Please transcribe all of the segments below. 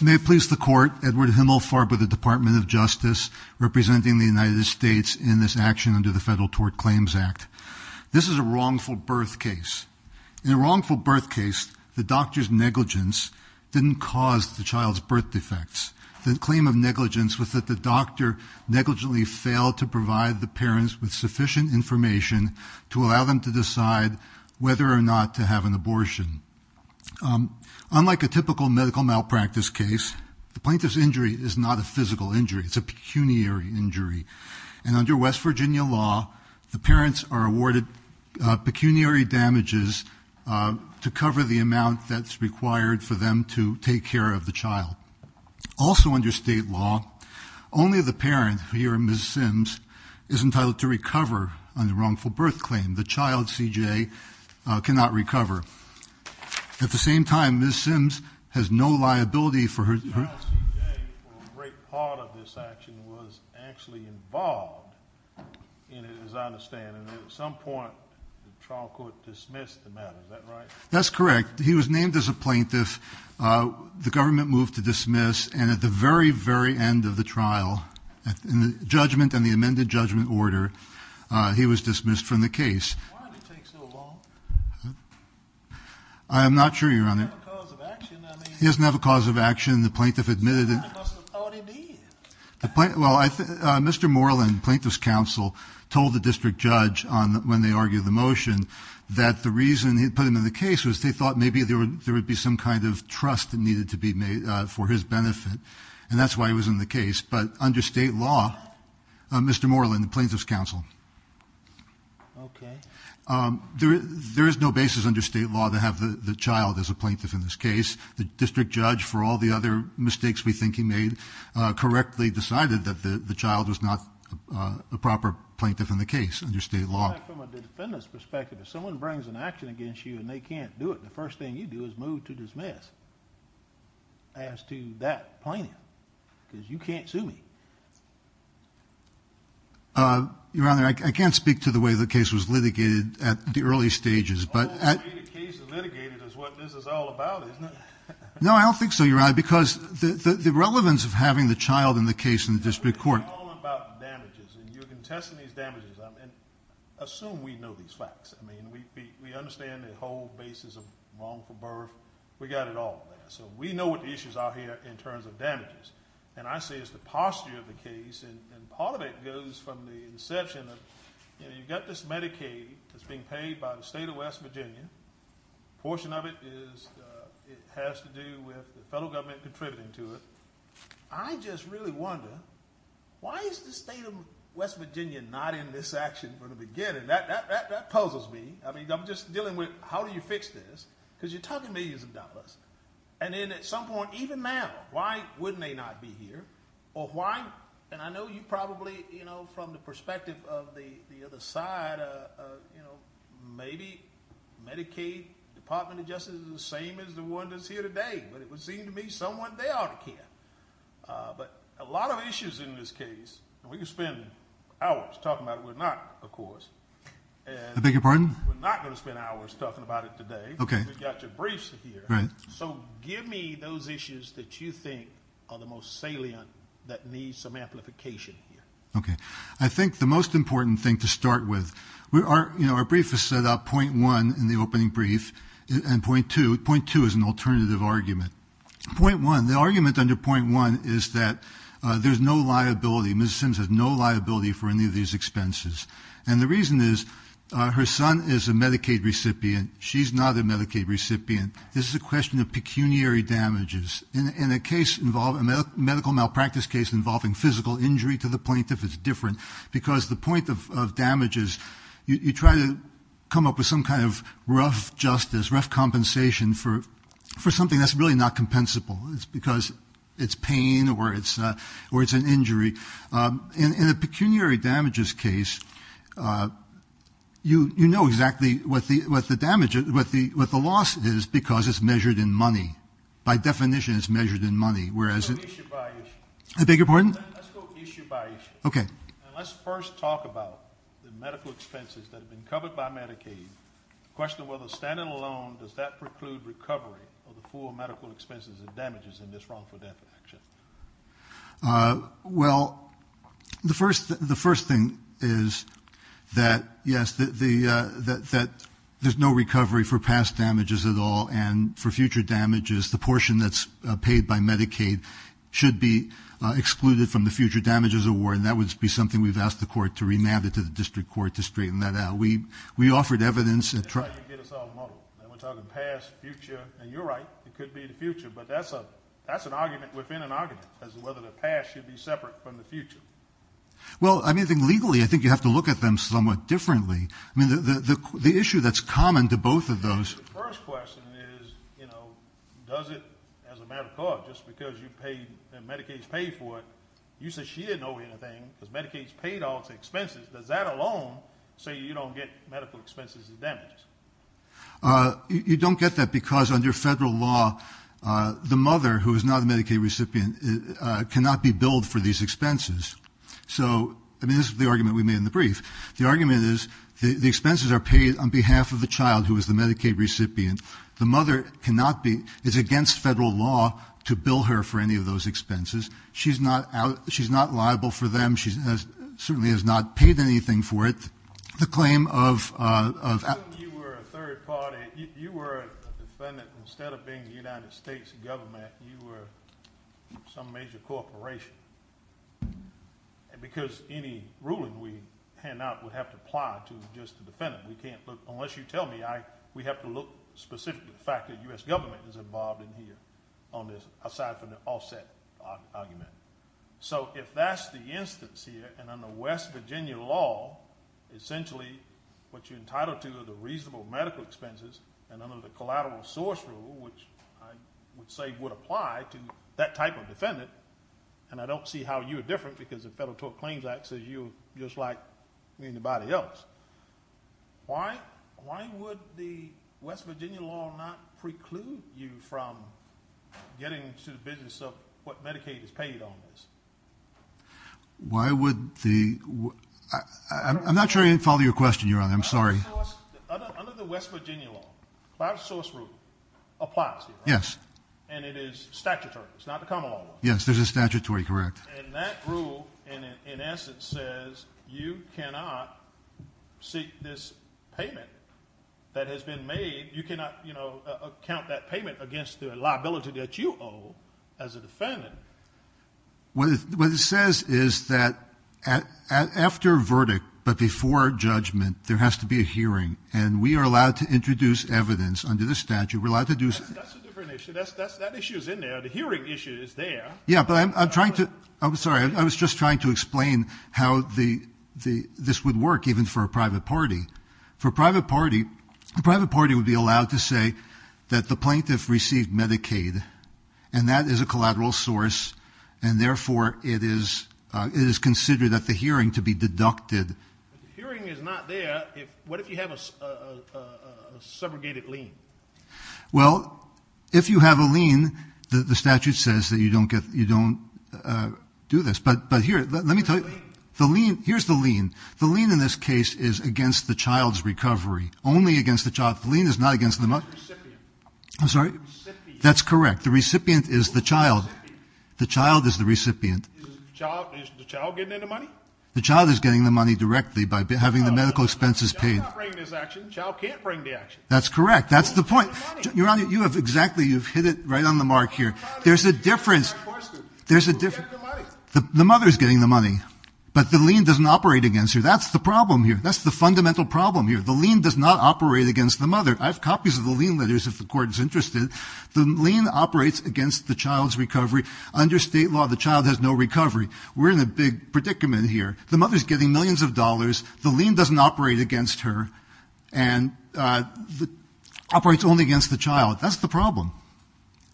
May it please the Court, Edward Himmelfarb of the Department of Justice, representing the United States in this action under the Federal Tort Claims Act. This is a wrongful birth case. In a wrongful birth case, the doctor's negligence didn't cause the child's birth defects. The claim of negligence was that the doctor negligently failed to provide the parents with sufficient information to allow them to decide whether or not to have an abortion. Unlike a typical medical malpractice case, the plaintiff's injury is not a physical injury. It's a pecuniary injury. And under West Virginia law, the parents are awarded pecuniary damages to cover the amount that's required for them to take care of the child. Also under state law, only the parent here, Ms. Simms, is entitled to recover on the wrongful birth claim. The child, C.J., cannot recover. At the same time, Ms. Simms has no liability for her... The child, C.J., for a great part of this action, was actually involved in it, as I understand. And at some point, the trial court dismissed the matter, is that right? That's correct. He was named as a plaintiff, the government moved to dismiss, and at the very, very end of the trial, in the judgment and the amended judgment order, he was dismissed from the case. Why did it take so long? I am not sure, Your Honor. He doesn't have a cause of action, I mean... He doesn't have a cause of action. The plaintiff admitted... Then he must have thought he did. Mr. Moreland, plaintiff's counsel, told the district judge when they argued the motion that the reason they put him in the case was they thought maybe there would be some kind of trust that needed to be made for his benefit, and that's why he was in the case. But under state law, Mr. Moreland, the plaintiff's counsel, there is no basis under state law to have the child as a plaintiff in this case. The district judge, for all the other mistakes we think he made, correctly decided that the child was not a proper plaintiff in the case under state law. But from a defendant's perspective, if someone brings an action against you and they can't do it, the first thing you do is move to dismiss as to that plaintiff, because you can't sue me. Your Honor, I can't speak to the way the case was litigated at the early stages, but... The way the case is litigated is what this is all about, isn't it? No, I don't think so, Your Honor, because the relevance of having the child in the case in the district court... You're contesting these damages, and assume we know these facts. We understand the whole basis of wrongful birth. We got it all there. So we know what the issues are here in terms of damages. And I say it's the posture of the case, and part of it goes from the inception of, you know, you've got this Medicaid that's being paid by the state of West Virginia, a portion of it has to do with the federal government contributing to it. I just really wonder, why is the state of West Virginia not in this action from the beginning? That puzzles me. I mean, I'm just dealing with how do you fix this, because you're talking millions of dollars. And then at some point, even now, why wouldn't they not be here? Or why... And I know you probably, you know, from the perspective of the other side, you know, maybe Medicaid Department of Justice is the same as the one that's here today, but it would seem to me someone, they ought to care. But a lot of issues in this case, and we could spend hours talking about it, we're not, of course. I beg your pardon? We're not going to spend hours talking about it today. Okay. We've got your briefs here. Right. So give me those issues that you think are the most salient that need some amplification here. Okay. I think the most important thing to start with, we are, you know, our brief is set up point one in the opening brief, and point two, point two is an alternative argument. Point one, the argument under point one is that there's no liability, Ms. Sims has no liability for any of these expenses. And the reason is, her son is a Medicaid recipient. She's not a Medicaid recipient. This is a question of pecuniary damages. In a case involving, a medical malpractice case involving physical injury to the plaintiff is different, because the point of damages, you try to come up with some kind of rough justice, rough compensation for something that's really not compensable. It's because it's pain or it's an injury. In a pecuniary damages case, you know exactly what the loss is, because it's measured in money. By definition, it's measured in money, whereas it's... A bigger point? Let's go issue by issue. Okay. And let's first talk about the medical expenses that have been covered by Medicaid. The question of whether standing alone, does that preclude recovery of the full medical expenses and damages in this wrongful death action? Well, the first thing is that, yes, that there's no recovery for past damages at all, and for the future damages award. And that would be something we've asked the court to remand it to the district court to straighten that out. We offered evidence... That's how you get us all muddled. We're talking past, future. And you're right. It could be the future. But that's an argument within an argument, as to whether the past should be separate from the future. Well, I mean, I think legally, I think you have to look at them somewhat differently. I mean, the issue that's common to both of those... You said she didn't owe you anything, because Medicaid's paid off the expenses. Does that alone say you don't get medical expenses and damages? You don't get that, because under federal law, the mother, who is not a Medicaid recipient, cannot be billed for these expenses. So, I mean, this is the argument we made in the brief. The argument is, the expenses are paid on behalf of the child, who is the Medicaid recipient. The mother cannot be... It's against federal law to bill her for any of those expenses. She's not liable for them. She certainly has not paid anything for it. The claim of... You were a third party. You were a defendant. Instead of being the United States government, you were some major corporation. Because any ruling we hand out would have to apply to just the defendant. We can't look... Unless you tell me, we have to look specifically at the fact that the U.S. government is involved in here. Aside from the offset argument. So, if that's the instance here, and under West Virginia law, essentially, what you're entitled to are the reasonable medical expenses, and under the collateral source rule, which I would say would apply to that type of defendant, and I don't see how you're different, because the Federal Tort Claims Act says you're just like anybody else. Why would the West Virginia law not preclude you from getting to the business of what Medicaid has paid on this? Why would the... I'm not sure I follow your question, Your Honor. I'm sorry. Under the West Virginia law, collateral source rule applies to you, right? Yes. And it is statutory. Yes, there's a statutory, correct. And that rule, in essence, says you cannot seek this payment that has been made. You cannot, you know, account that payment against the liability that you owe as a defendant. What it says is that after verdict, but before judgment, there has to be a hearing, and we are allowed to introduce evidence under the statute. We're allowed to do... That's a different issue. That issue is in there. The hearing issue is there. Yeah, but I'm trying to... I'm sorry. I was just trying to explain how this would work, even for a private party. For a private party, a private party would be allowed to say that the plaintiff received Medicaid, and that is a collateral source, and therefore it is considered at the hearing to be deducted. If the hearing is not there, what if you have a segregated lien? Well, if you have a lien, the statute says that you don't do this. But here, let me tell you. The lien. Here's the lien. The lien in this case is against the child's recovery. Only against the child. The lien is not against the money. It's the recipient. I'm sorry? The recipient. That's correct. The recipient is the child. The child is the recipient. Is the child getting any money? The child's not bringing this action. The child can't bring the action. That's correct. That's the point. Your Honor, you have exactly, you've hit it right on the mark here. There's a difference. There's a difference. The mother's getting the money. But the lien doesn't operate against her. That's the problem here. That's the fundamental problem here. The lien does not operate against the mother. I have copies of the lien letters if the Court is interested. The lien operates against the child's recovery. Under state law, the child has no recovery. We're in a big predicament here. The mother's getting millions of dollars. The lien doesn't operate against her. And it operates only against the child. That's the problem.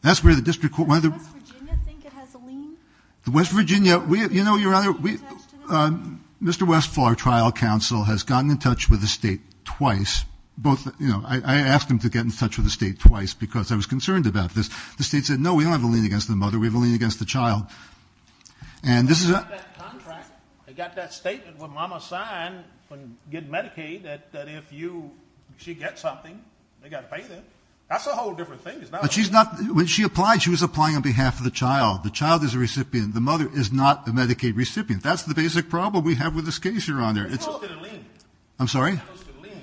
Does West Virginia think it has a lien? The West Virginia, you know, your Honor, Mr. Westphal, our trial counsel, has gotten in touch with the state twice. I asked him to get in touch with the state twice because I was concerned about this. The state said, no, we don't have a lien against the mother. We have a lien against the child. They got that contract. They got that statement when Mama signed, when getting Medicaid, that if she gets something, they got to pay them. That's a whole different thing. When she applied, she was applying on behalf of the child. The child is a recipient. The mother is not a Medicaid recipient. That's the basic problem we have with this case, Your Honor. It's just a lien. I'm sorry? It's just a lien,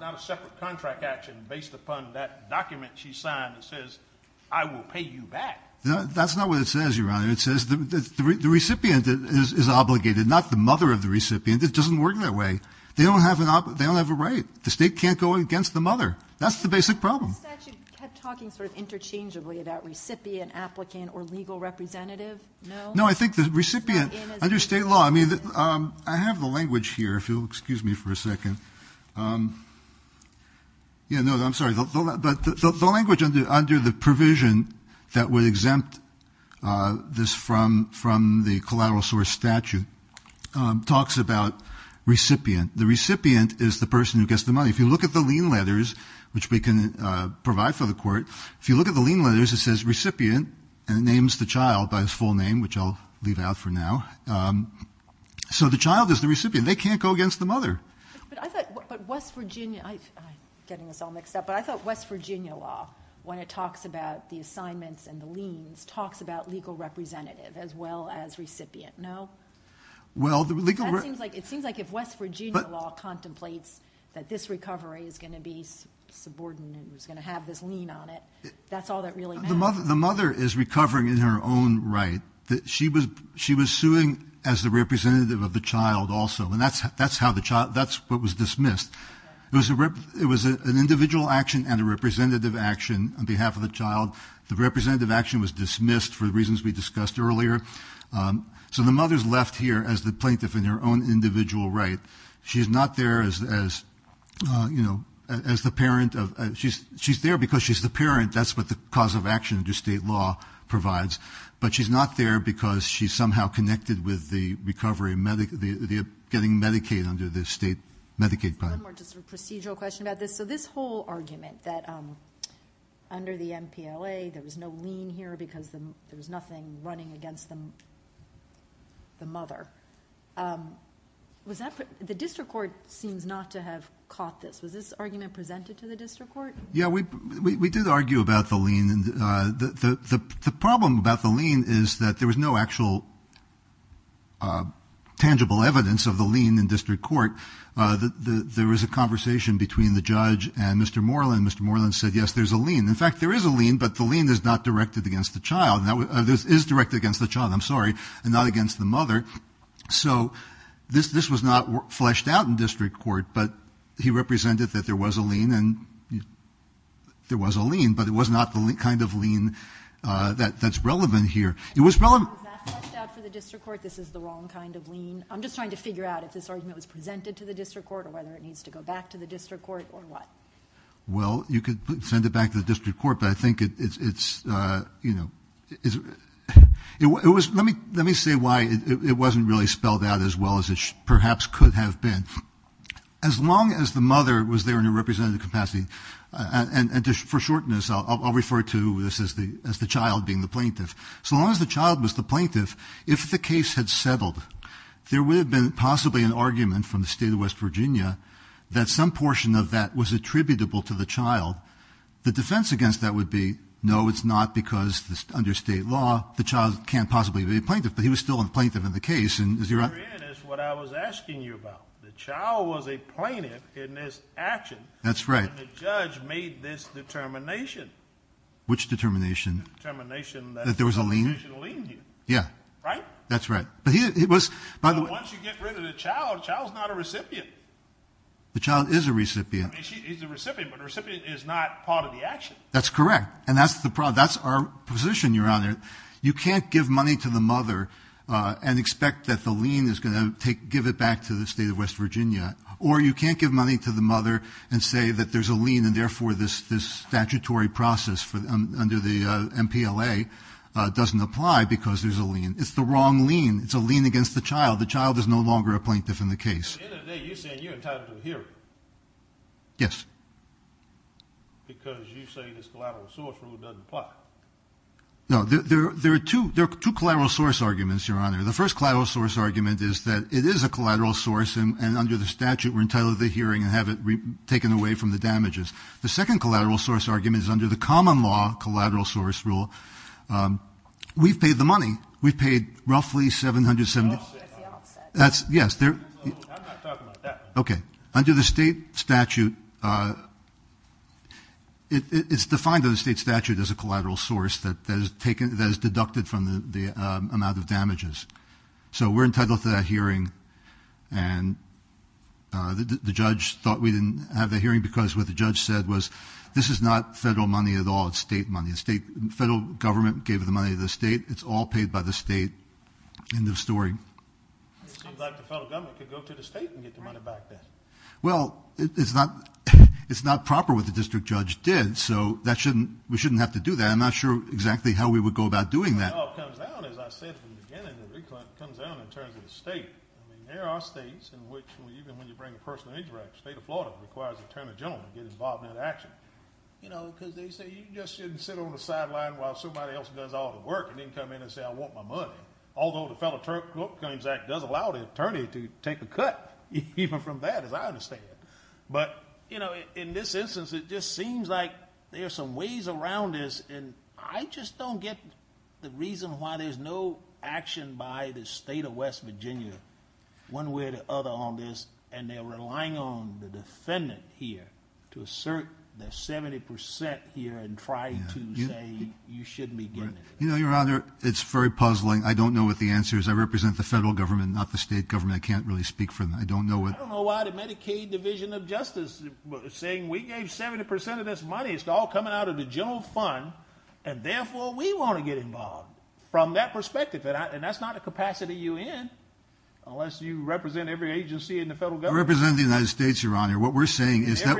not a separate contract action based upon that document she signed that says, I will pay you back. That's not what it says, Your Honor. It says the recipient is obligated, not the mother of the recipient. It doesn't work that way. They don't have a right. The state can't go against the mother. That's the basic problem. The statute kept talking sort of interchangeably about recipient, applicant, or legal representative. No? No, I think the recipient, under state law, I mean, I have the language here, if you'll excuse me for a second. Yeah, no, I'm sorry. But the language under the provision that would exempt this from the collateral source statute talks about recipient. The recipient is the person who gets the money. If you look at the lien letters, which we can provide for the court, if you look at the lien letters, it says recipient, and it names the child by his full name, which I'll leave out for now. So the child is the recipient. They can't go against the mother. But I thought West Virginia, I'm getting this all mixed up, but I thought West Virginia law, when it talks about the assignments and the liens, talks about legal representative as well as recipient. No? Well, the legal representative. It seems like if West Virginia law contemplates that this recovery is going to be subordinate and is going to have this lien on it, that's all that really matters. The mother is recovering in her own right. She was suing as the representative of the child also. And that's what was dismissed. It was an individual action and a representative action on behalf of the child. The representative action was dismissed for the reasons we discussed earlier. So the mother is left here as the plaintiff in her own individual right. She's not there as the parent. She's there because she's the parent. That's what the cause of action under state law provides. But she's not there because she's somehow connected with the recovery, getting Medicaid under the state Medicaid plan. One more procedural question about this. So this whole argument that under the MPLA there was no lien here because there was nothing running against the mother, the district court seems not to have caught this. Was this argument presented to the district court? Yeah, we did argue about the lien. The problem about the lien is that there was no actual tangible evidence of the lien in district court. There was a conversation between the judge and Mr. Moreland. Mr. Moreland said, yes, there's a lien. In fact, there is a lien, but the lien is not directed against the child. This is directed against the child, I'm sorry, and not against the mother. So this was not fleshed out in district court, but it was not the kind of lien that's relevant here. Was that fleshed out for the district court, this is the wrong kind of lien? I'm just trying to figure out if this argument was presented to the district court or whether it needs to go back to the district court or what. Well, you could send it back to the district court, but I think it's, you know, let me say why it wasn't really spelled out as well as it perhaps could have been. As long as the mother was there in a representative capacity, and for shortness I'll refer to this as the child being the plaintiff. So long as the child was the plaintiff, if the case had settled, there would have been possibly an argument from the state of West Virginia that some portion of that was attributable to the child. The defense against that would be, no, it's not because under state law, the child can't possibly be a plaintiff, but he was still a plaintiff in the case. And is he right? What I was asking you about, the child was a plaintiff in this action. That's right. And the judge made this determination. Which determination? The determination that there was a lien. Yeah. Right? That's right. But once you get rid of the child, the child's not a recipient. The child is a recipient. He's a recipient, but the recipient is not part of the action. That's correct, and that's our position, Your Honor. You can't give money to the mother and expect that the lien is going to give it back to the state of West Virginia, or you can't give money to the mother and say that there's a lien and therefore this statutory process under the MPLA doesn't apply because there's a lien. It's the wrong lien. It's a lien against the child. The child is no longer a plaintiff in the case. At the end of the day, you're saying you're entitled to a hearing. Yes. Because you say this collateral source rule doesn't apply. No, there are two collateral source arguments, Your Honor. The first collateral source argument is that it is a collateral source and under the statute we're entitled to the hearing and have it taken away from the damages. The second collateral source argument is under the common law collateral source rule. We've paid the money. We've paid roughly $770. That's the offset. Yes. I'm not talking about that. Okay. Under the state statute, it's defined under the state statute as a collateral source that is deducted from the amount of damages. So we're entitled to that hearing, and the judge thought we didn't have the hearing because what the judge said was this is not federal money at all. It's state money. The federal government gave the money to the state. It's all paid by the state. End of story. It seems like the federal government could go to the state and get the money back then. Well, it's not proper what the district judge did, so we shouldn't have to do that. I'm not sure exactly how we would go about doing that. It all comes down, as I said from the beginning, it all comes down in terms of the state. There are states in which even when you bring a person into the state of Florida, it requires the attorney gentleman to get involved in that action. You know, because they say you just shouldn't sit on the sideline while somebody else does all the work and then come in and say I want my money, although the Federal Attorneys Act does allow the attorney to take a cut, even from that as I understand it. But, you know, in this instance, it just seems like there are some ways around this, and I just don't get the reason why there's no action by the state of West Virginia one way or the other on this, and they're relying on the defendant here to assert their 70% here and try to say you shouldn't be getting it. You know, Your Honor, it's very puzzling. I don't know what the answer is. I represent the federal government, not the state government. I can't really speak for them. I don't know why the Medicaid Division of Justice saying we gave 70% of this money, it's all coming out of the general fund, and therefore we want to get involved. From that perspective, and that's not a capacity you're in, unless you represent every agency in the federal government. I represent the United States, Your Honor. What we're saying is that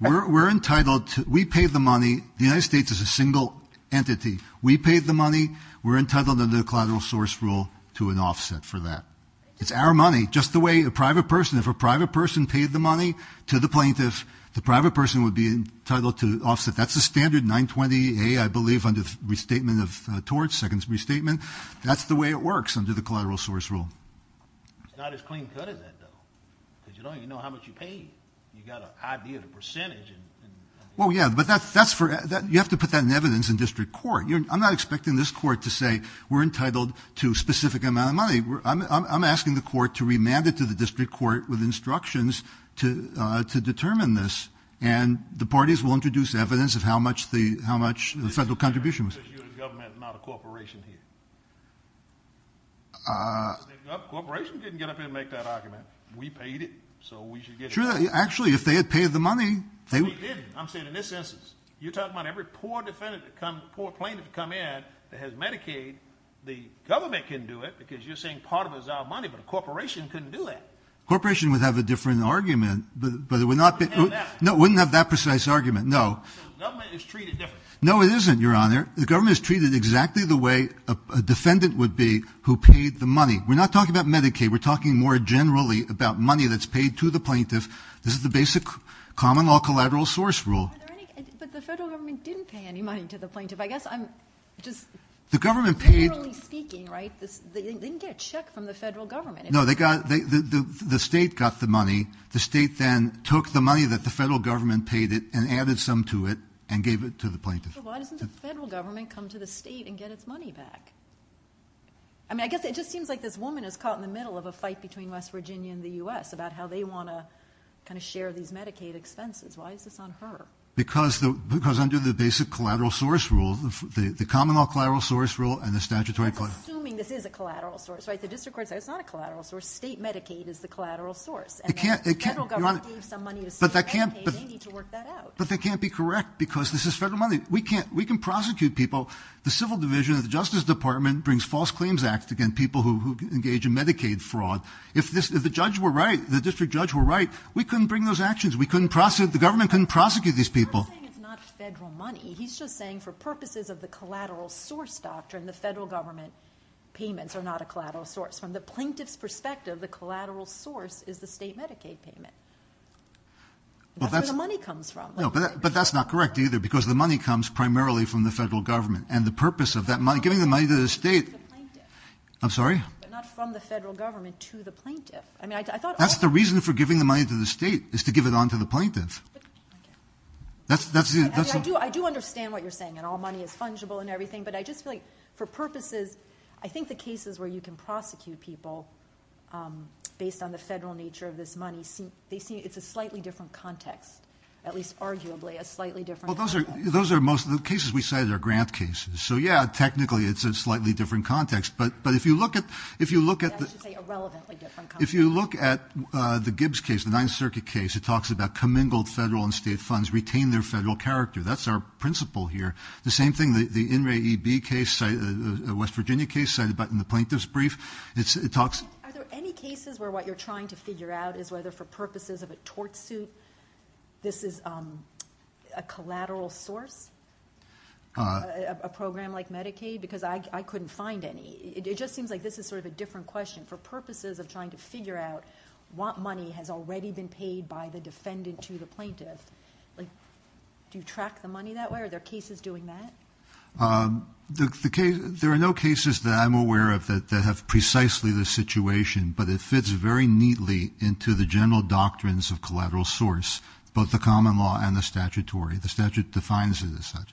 we're entitled to we pay the money. The United States is a single entity. We pay the money. We're entitled under the collateral source rule to an offset for that. It's our money. Just the way a private person, if a private person paid the money to the plaintiff, the private person would be entitled to offset. That's the standard 920A, I believe, under the restatement of torts, second restatement. That's the way it works under the collateral source rule. It's not as clean cut as that, though, because you don't even know how much you paid. You've got an idea of the percentage. Well, yeah, but that's for you have to put that in evidence in district court. I'm not expecting this court to say we're entitled to a specific amount of money. I'm asking the court to remand it to the district court with instructions to determine this, and the parties will introduce evidence of how much the federal contribution was. Because you're the government, not a corporation here. The corporation didn't get up here and make that argument. We paid it, so we should get it. Actually, if they had paid the money. They didn't. I'm saying in this instance. You're talking about every poor plaintiff that come in that has Medicaid, the government can do it because you're saying part of it is our money, but a corporation couldn't do that. Corporation would have a different argument, but it would not be. No, it wouldn't have that precise argument, no. So the government is treated differently. No, it isn't, Your Honor. The government is treated exactly the way a defendant would be who paid the money. We're not talking about Medicaid. We're talking more generally about money that's paid to the plaintiff. This is the basic common law collateral source rule. But the federal government didn't pay any money to the plaintiff. I guess I'm just generally speaking, right, they didn't get a check from the federal government. No, the state got the money. The state then took the money that the federal government paid it and added some to it and gave it to the plaintiff. So why doesn't the federal government come to the state and get its money back? I mean, I guess it just seems like this woman is caught in the middle of a fight between West Virginia and the U.S. about how they want to kind of share these Medicaid expenses. Why is this on her? Because under the basic collateral source rule, the common law collateral source rule and the statutory collateral source. I'm assuming this is a collateral source, right? The district court said it's not a collateral source. State Medicaid is the collateral source. And the federal government gave some money to state Medicaid. They need to work that out. But that can't be correct because this is federal money. We can prosecute people. The Civil Division of the Justice Department brings false claims act against people who engage in Medicaid fraud. If the judge were right, the district judge were right, we couldn't bring those actions. We couldn't prosecute, the government couldn't prosecute these people. He's not saying it's not federal money. He's just saying for purposes of the collateral source doctrine, the federal government payments are not a collateral source. From the plaintiff's perspective, the collateral source is the state Medicaid payment. That's where the money comes from. But that's not correct either because the money comes primarily from the federal government. And the purpose of that money, giving the money to the state. I'm sorry? Not from the federal government to the plaintiff. That's the reason for giving the money to the state is to give it on to the plaintiff. I do understand what you're saying. And all money is fungible and everything. But I just feel like for purposes, I think the cases where you can prosecute people based on the federal nature of this money, they see it's a slightly different context, at least arguably a slightly different context. Well, those are most of the cases we cited are grant cases. So, yeah, technically it's a slightly different context. But if you look at the Gibbs case, the Ninth Circuit case, it talks about commingled federal and state funds retain their federal character. That's our principle here. The same thing, the In re EB case, the West Virginia case cited in the plaintiff's brief. Are there any cases where what you're trying to figure out is whether for purposes of a tort suit, this is a collateral source? A program like Medicaid? Because I couldn't find any. It just seems like this is sort of a different question. For purposes of trying to figure out what money has already been paid by the defendant to the plaintiff, do you track the money that way? Are there cases doing that? There are no cases that I'm aware of that have precisely this situation. But it fits very neatly into the general doctrines of collateral source, both the common law and the statutory. The statute defines it as such.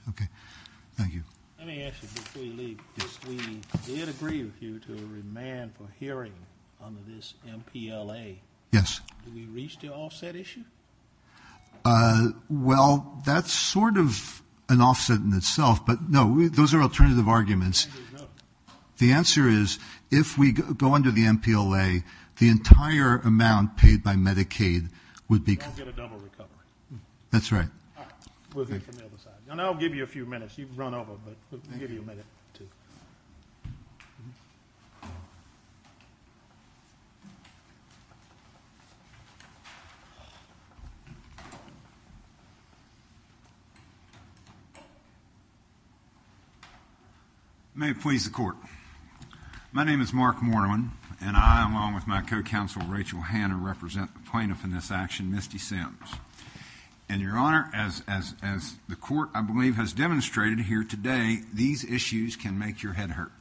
Thank you. Let me ask you before you leave. We did agree with you to a remand for hearing under this MPLA. Yes. Did we reach the offset issue? Well, that's sort of an offset in itself. But, no, those are alternative arguments. The answer is if we go under the MPLA, the entire amount paid by Medicaid would be ‑‑ You don't get a double recovery. That's right. All right. We'll hear from the other side. I'll give you a few minutes. You've run over, but we'll give you a minute or two. May it please the Court. My name is Mark Mortimer, and I, along with my co‑counsel Rachel Hanna, represent the plaintiff in this action, Misty Sims. And, Your Honor, as the Court, I believe, has demonstrated here today, these issues can make your head hurt.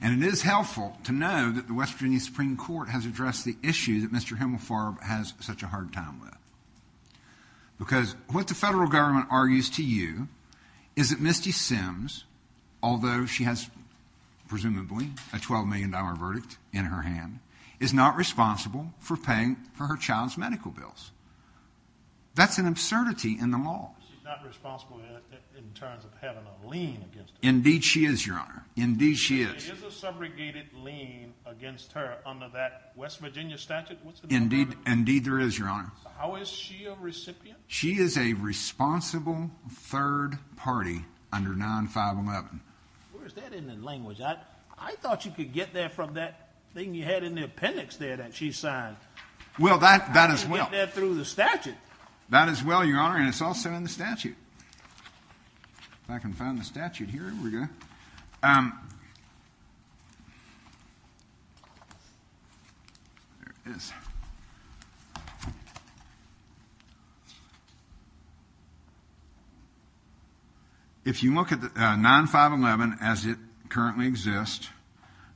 And it is helpful to know that the West Virginia Supreme Court has addressed the issue that Mr. Himmelfarb has such a hard time with. Because what the federal government argues to you is that Misty Sims, although she has presumably a $12 million verdict in her hand, is not responsible for paying for her child's medical bills. That's an absurdity in the law. She's not responsible in terms of having a lien against her. Indeed she is, Your Honor. Indeed she is. Is there a subrogated lien against her under that West Virginia statute? Indeed there is, Your Honor. How is she a recipient? She is a responsible third party under 9511. Where is that in the language? I thought you could get there from that thing you had in the appendix there that she signed. Well, that as well. I could get there through the statute. That as well, Your Honor, and it's also in the statute. If I can find the statute here. Here we go. There it is. If you look at 9511 as it currently exists,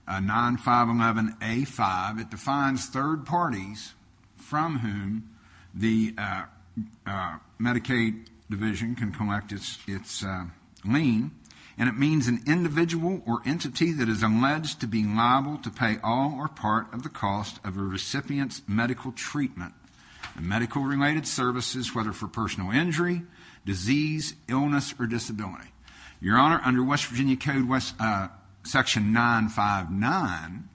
9511A5, it defines third parties from whom the Medicaid division can collect its lien, and it means an individual or entity that is alleged to be liable to pay all or part of the cost of a recipient's medical treatment, medical-related services, whether for personal injury, disease, illness, or disability. Your Honor, under West Virginia Code Section 959,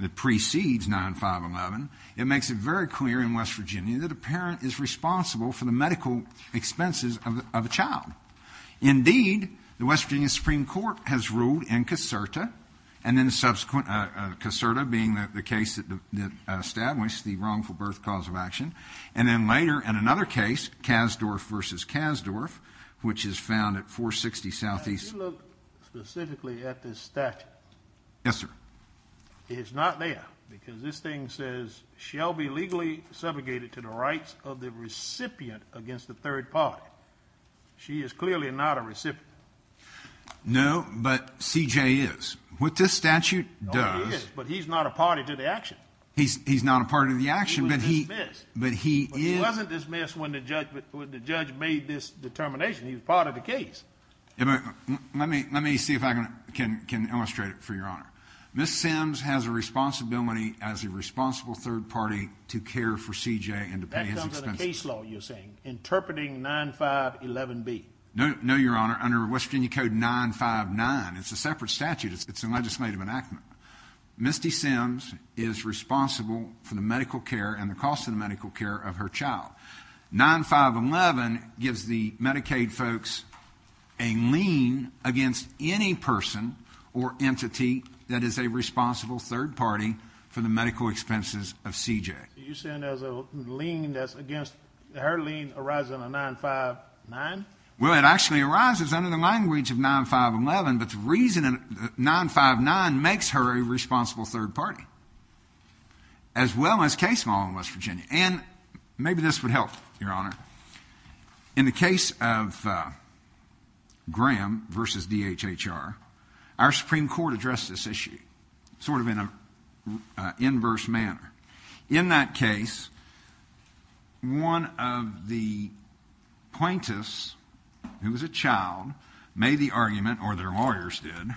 that precedes 9511, it makes it very clear in West Virginia that a parent is responsible for the medical expenses of a child. Indeed, the West Virginia Supreme Court has ruled in Caserta, and then subsequent Caserta being the case that established the wrongful birth cause of action, and then later in another case, Kasdorf v. Kasdorf, which is found at 460 Southeast. If you look specifically at this statute. Yes, sir. It is not there because this thing says, shall be legally subjugated to the rights of the recipient against the third party. She is clearly not a recipient. No, but C.J. is. What this statute does. No, he is, but he's not a party to the action. He's not a party to the action, but he. He was dismissed. But he is. But he wasn't dismissed when the judge made this determination. He was part of the case. Let me see if I can illustrate it for Your Honor. Ms. Sims has a responsibility as a responsible third party to care for C.J. and to pay his expenses. That comes under the case law, you're saying, interpreting 9511B. No, Your Honor. Under West Virginia Code 959, it's a separate statute. It's a legislative enactment. Misty Sims is responsible for the medical care and the cost of the medical care of her child. 9511 gives the Medicaid folks a lien against any person or entity that is a responsible third party for the medical expenses of C.J. You're saying there's a lien that's against, her lien arises under 959? Well, it actually arises under the language of 9511, but the reason 959 makes her a responsible third party, as well as case law in West Virginia. And maybe this would help, Your Honor. In the case of Graham v. DHHR, our Supreme Court addressed this issue sort of in an inverse manner. In that case, one of the plaintiffs, who was a child, made the argument, or their lawyers did,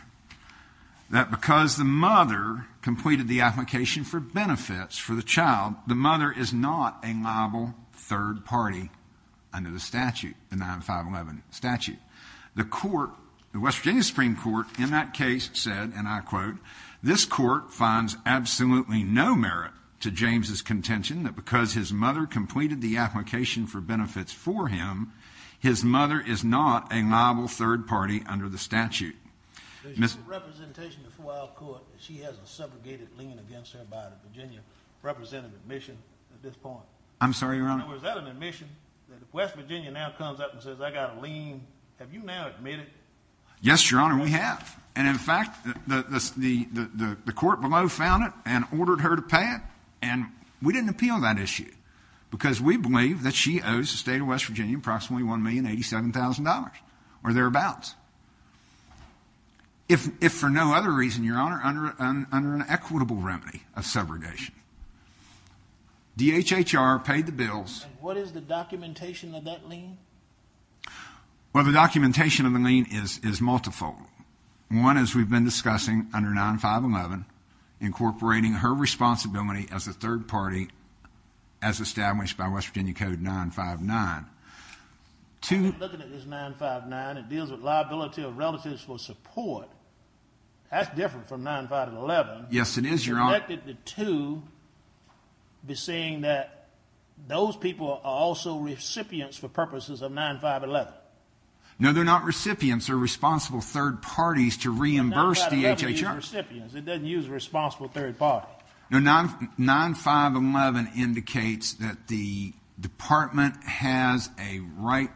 that because the mother completed the application for benefits for the child, the mother is not a liable third party under the statute, the 9511 statute. The West Virginia Supreme Court, in that case, said, and I quote, this court finds absolutely no merit to James's contention that because his mother completed the application for benefits for him, his mother is not a liable third party under the statute. There's no representation before our court that she has a subrogated lien against her by the Virginia representative. Is that an admission at this point? I'm sorry, Your Honor. Is that an admission that if West Virginia now comes up and says, I've got a lien, have you now admitted? Yes, Your Honor, we have. And, in fact, the court below found it and ordered her to pay it, and we didn't appeal that issue because we believe that she owes the state of West Virginia approximately $1,087,000, or thereabouts, if for no other reason, Your Honor, under an equitable remedy of subrogation. DHHR paid the bills. And what is the documentation of that lien? Well, the documentation of the lien is multiple. One is we've been discussing under 9511, incorporating her responsibility as a third party as established by West Virginia Code 959. Looking at this 959, it deals with liability of relatives for support. That's different from 9511. Yes, it is, Your Honor. Connected the two, we're seeing that those people are also recipients for purposes of 9511. No, they're not recipients. They're responsible third parties to reimburse DHHR. 9511 doesn't use recipients. It doesn't use responsible third parties. No, 9511 indicates that the department has a right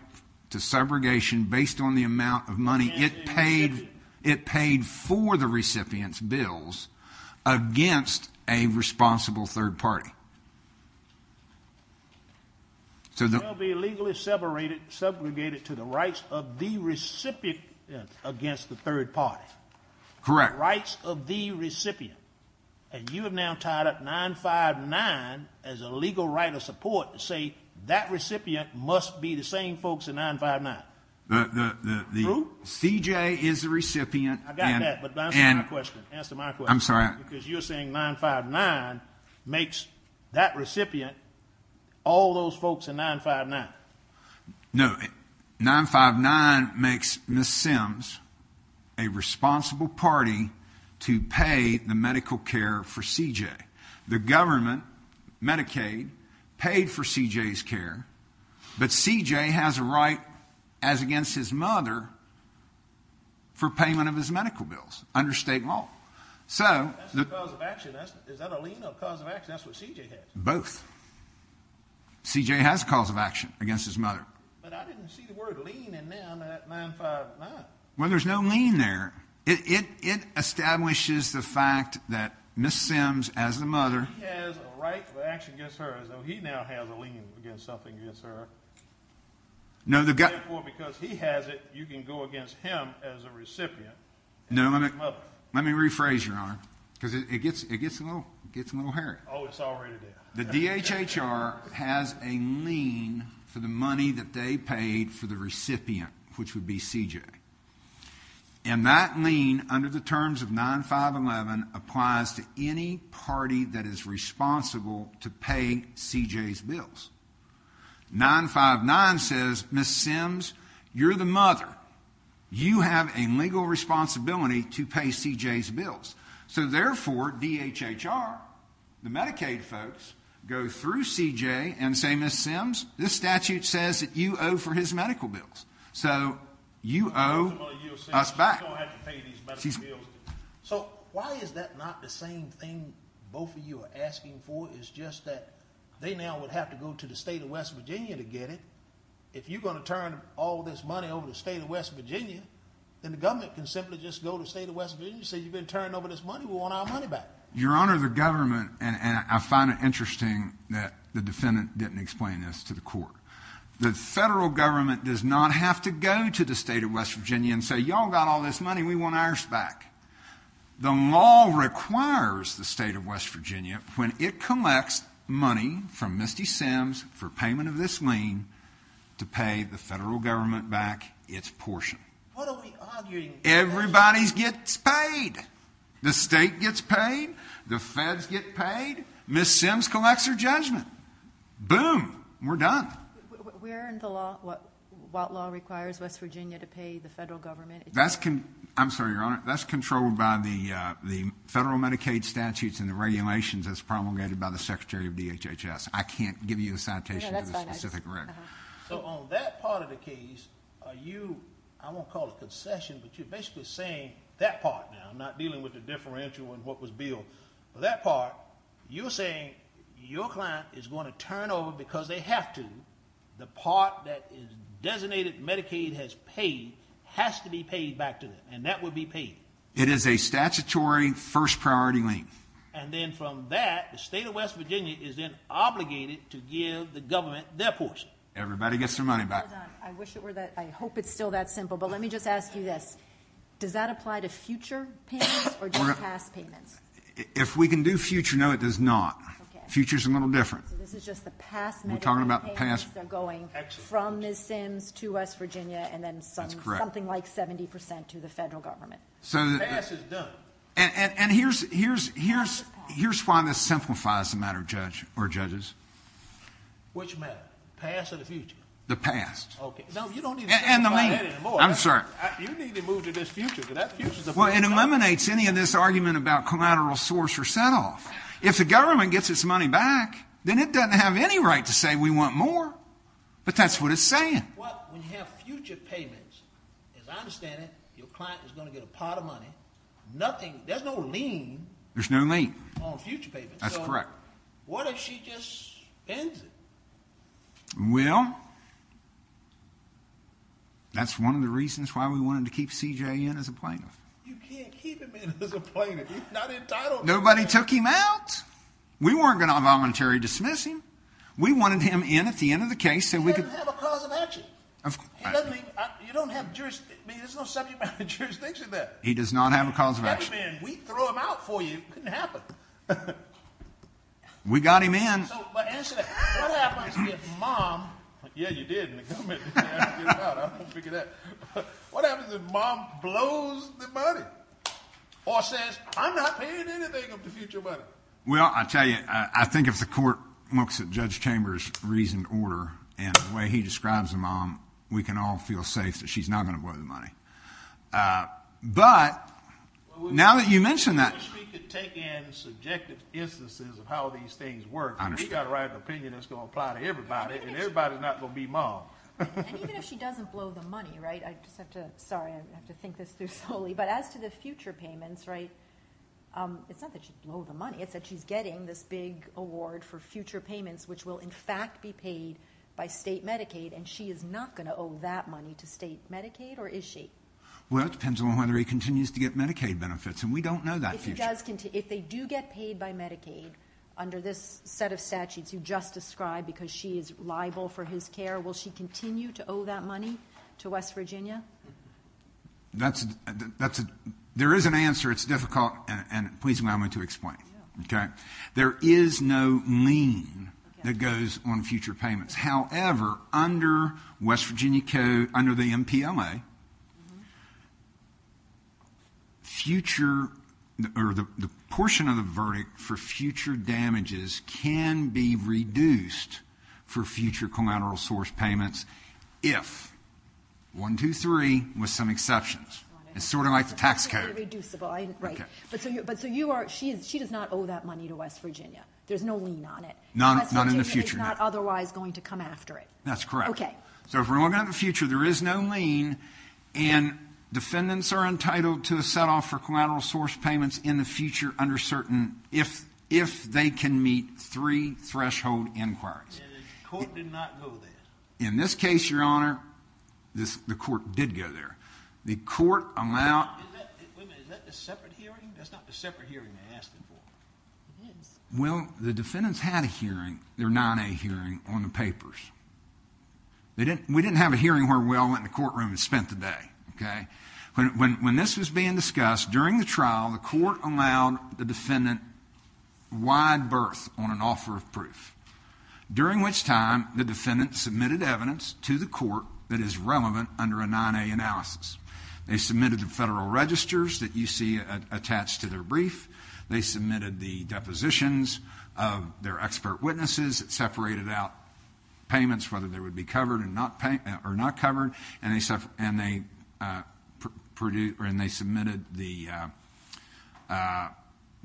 to subrogation based on the amount of money it paid. It paid for the recipient's bills against a responsible third party. They'll be legally segregated to the rights of the recipient against the third party. Correct. Rights of the recipient. And you have now tied up 959 as a legal right of support to say that recipient must be the same folks in 959. CJ is the recipient. I got that, but answer my question. Answer my question. I'm sorry. Because you're saying 959 makes that recipient all those folks in 959. No, 959 makes Ms. Sims a responsible party to pay the medical care for CJ. The government, Medicaid, paid for CJ's care, but CJ has a right, as against his mother, for payment of his medical bills under state law. That's a cause of action. Is that a lien or a cause of action? That's what CJ has. Both. CJ has a cause of action against his mother. But I didn't see the word lien in there under that 959. Well, there's no lien there. It establishes the fact that Ms. Sims, as the mother. He has a right of action against her, as though he now has a lien against something against her. Therefore, because he has it, you can go against him as a recipient. No, let me rephrase, Your Honor, because it gets a little hairy. Oh, it's already there. The DHHR has a lien for the money that they paid for the recipient, which would be CJ. And that lien, under the terms of 9511, applies to any party that is responsible to pay CJ's bills. 959 says, Ms. Sims, you're the mother. You have a legal responsibility to pay CJ's bills. So, therefore, DHHR, the Medicaid folks, go through CJ and say, Ms. Sims, this statute says that you owe for his medical bills. So you owe us back. We're going to have to pay these medical bills. So why is that not the same thing both of you are asking for? It's just that they now would have to go to the state of West Virginia to get it. If you're going to turn all this money over to the state of West Virginia, then the government can simply just go to the state of West Virginia and say, you've been turning over this money. We want our money back. Your Honor, the government, and I find it interesting that the defendant didn't explain this to the court. The federal government does not have to go to the state of West Virginia and say, you all got all this money. We want ours back. The law requires the state of West Virginia, when it collects money from Ms. Sims for payment of this lien, to pay the federal government back its portion. What are we arguing? Everybody gets paid. The state gets paid. The feds get paid. Ms. Sims collects her judgment. Boom. We're done. What law requires West Virginia to pay the federal government? I'm sorry, Your Honor. That's controlled by the federal Medicaid statutes and the regulations as promulgated by the Secretary of DHHS. I can't give you a citation of the specific record. On that part of the case, you, I won't call it a concession, but you're basically saying that part now, not dealing with the differential and what was billed. For that part, you're saying your client is going to turn over because they have to. The part that is designated Medicaid has paid has to be paid back to them, and that will be paid. It is a statutory first priority lien. And then from that, the state of West Virginia is then obligated to give the government their portion. Everybody gets their money back. I hope it's still that simple, but let me just ask you this. Does that apply to future payments or just past payments? If we can do future, no, it does not. Future is a little different. So this is just the past Medicaid payments that are going from Ms. Sims to West Virginia and then something like 70% to the federal government. So the past is done. And here's why this simplifies the matter, Judge, or judges. Which matter, past or the future? The past. Okay. No, you don't need to simplify that anymore. I'm sorry. You need to move to this future because that future is a first priority. Well, it eliminates any of this argument about collateral source or set-off. If the government gets its money back, then it doesn't have any right to say we want more. But that's what it's saying. Well, when you have future payments, as I understand it, your client is going to get a pot of money. There's no lien. There's no lien. On future payments. That's correct. What if she just ends it? Well, that's one of the reasons why we wanted to keep CJ in as a plaintiff. You can't keep him in as a plaintiff. He's not entitled. Nobody took him out. We weren't going to voluntarily dismiss him. We wanted him in at the end of the case. He doesn't have a cause of action. You don't have jurisdiction. There's no subject matter of jurisdiction there. He does not have a cause of action. Hey, man, we throw him out for you. It couldn't happen. We got him in. But answer that. What happens if mom, yeah, you did in the comment. I don't know how to figure that. What happens if mom blows the money? Or says, I'm not paying anything of the future money. Well, I tell you, I think if the court looks at Judge Chambers' reasoned order and the way he describes a mom, we can all feel safe that she's not going to blow the money. But now that you mention that. We could take in subjective instances of how these things work. We got to write an opinion that's going to apply to everybody, and everybody's not going to be mom. And even if she doesn't blow the money, right? Sorry, I have to think this through slowly. But as to the future payments, right, it's not that she's blowing the money. It's that she's getting this big award for future payments, which will in fact be paid by state Medicaid, and she is not going to owe that money to state Medicaid, or is she? Well, that depends on whether he continues to get Medicaid benefits, and we don't know that future. If they do get paid by Medicaid under this set of statutes you just described because she is liable for his care, will she continue to owe that money to West Virginia? There is an answer. It's difficult, and please allow me to explain. There is no lien that goes on future payments. However, under West Virginia Code, under the MPLA, the portion of the verdict for future damages can be reduced for future collateral source payments if one, two, three, with some exceptions. It's sort of like the tax code. Reducible, right. But so you are – she does not owe that money to West Virginia. There's no lien on it. Not in the future, no. West Virginia is not otherwise going to come after it. That's correct. Okay. So if we're looking at the future, there is no lien, and defendants are entitled to a set-off for collateral source payments in the future under certain – if they can meet three threshold inquiries. And the court did not go there. In this case, Your Honor, the court did go there. The court allowed – Wait a minute. Is that the separate hearing? That's not the separate hearing they asked for. It is. Well, the defendants had a hearing, their 9A hearing, on the papers. We didn't have a hearing where Will went in the courtroom and spent the day, okay? When this was being discussed, during the trial, the court allowed the defendant wide berth on an offer of proof, during which time the defendant submitted evidence to the court that is relevant under a 9A analysis. They submitted the federal registers that you see attached to their brief. They submitted the depositions of their expert witnesses. It separated out payments, whether they would be covered or not covered, and they submitted the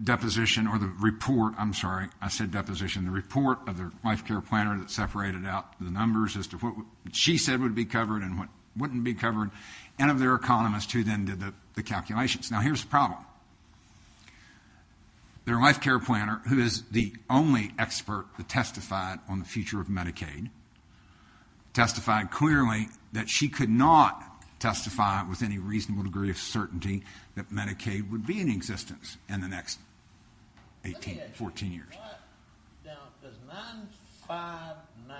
deposition or the report. I'm sorry. I said deposition. The report of their life care planner that separated out the numbers as to what she said would be covered and what wouldn't be covered, and of their economist who then did the calculations. Now, here's the problem. Their life care planner, who is the only expert that testified on the future of Medicaid, would be in existence in the next 14 years. Now, does 959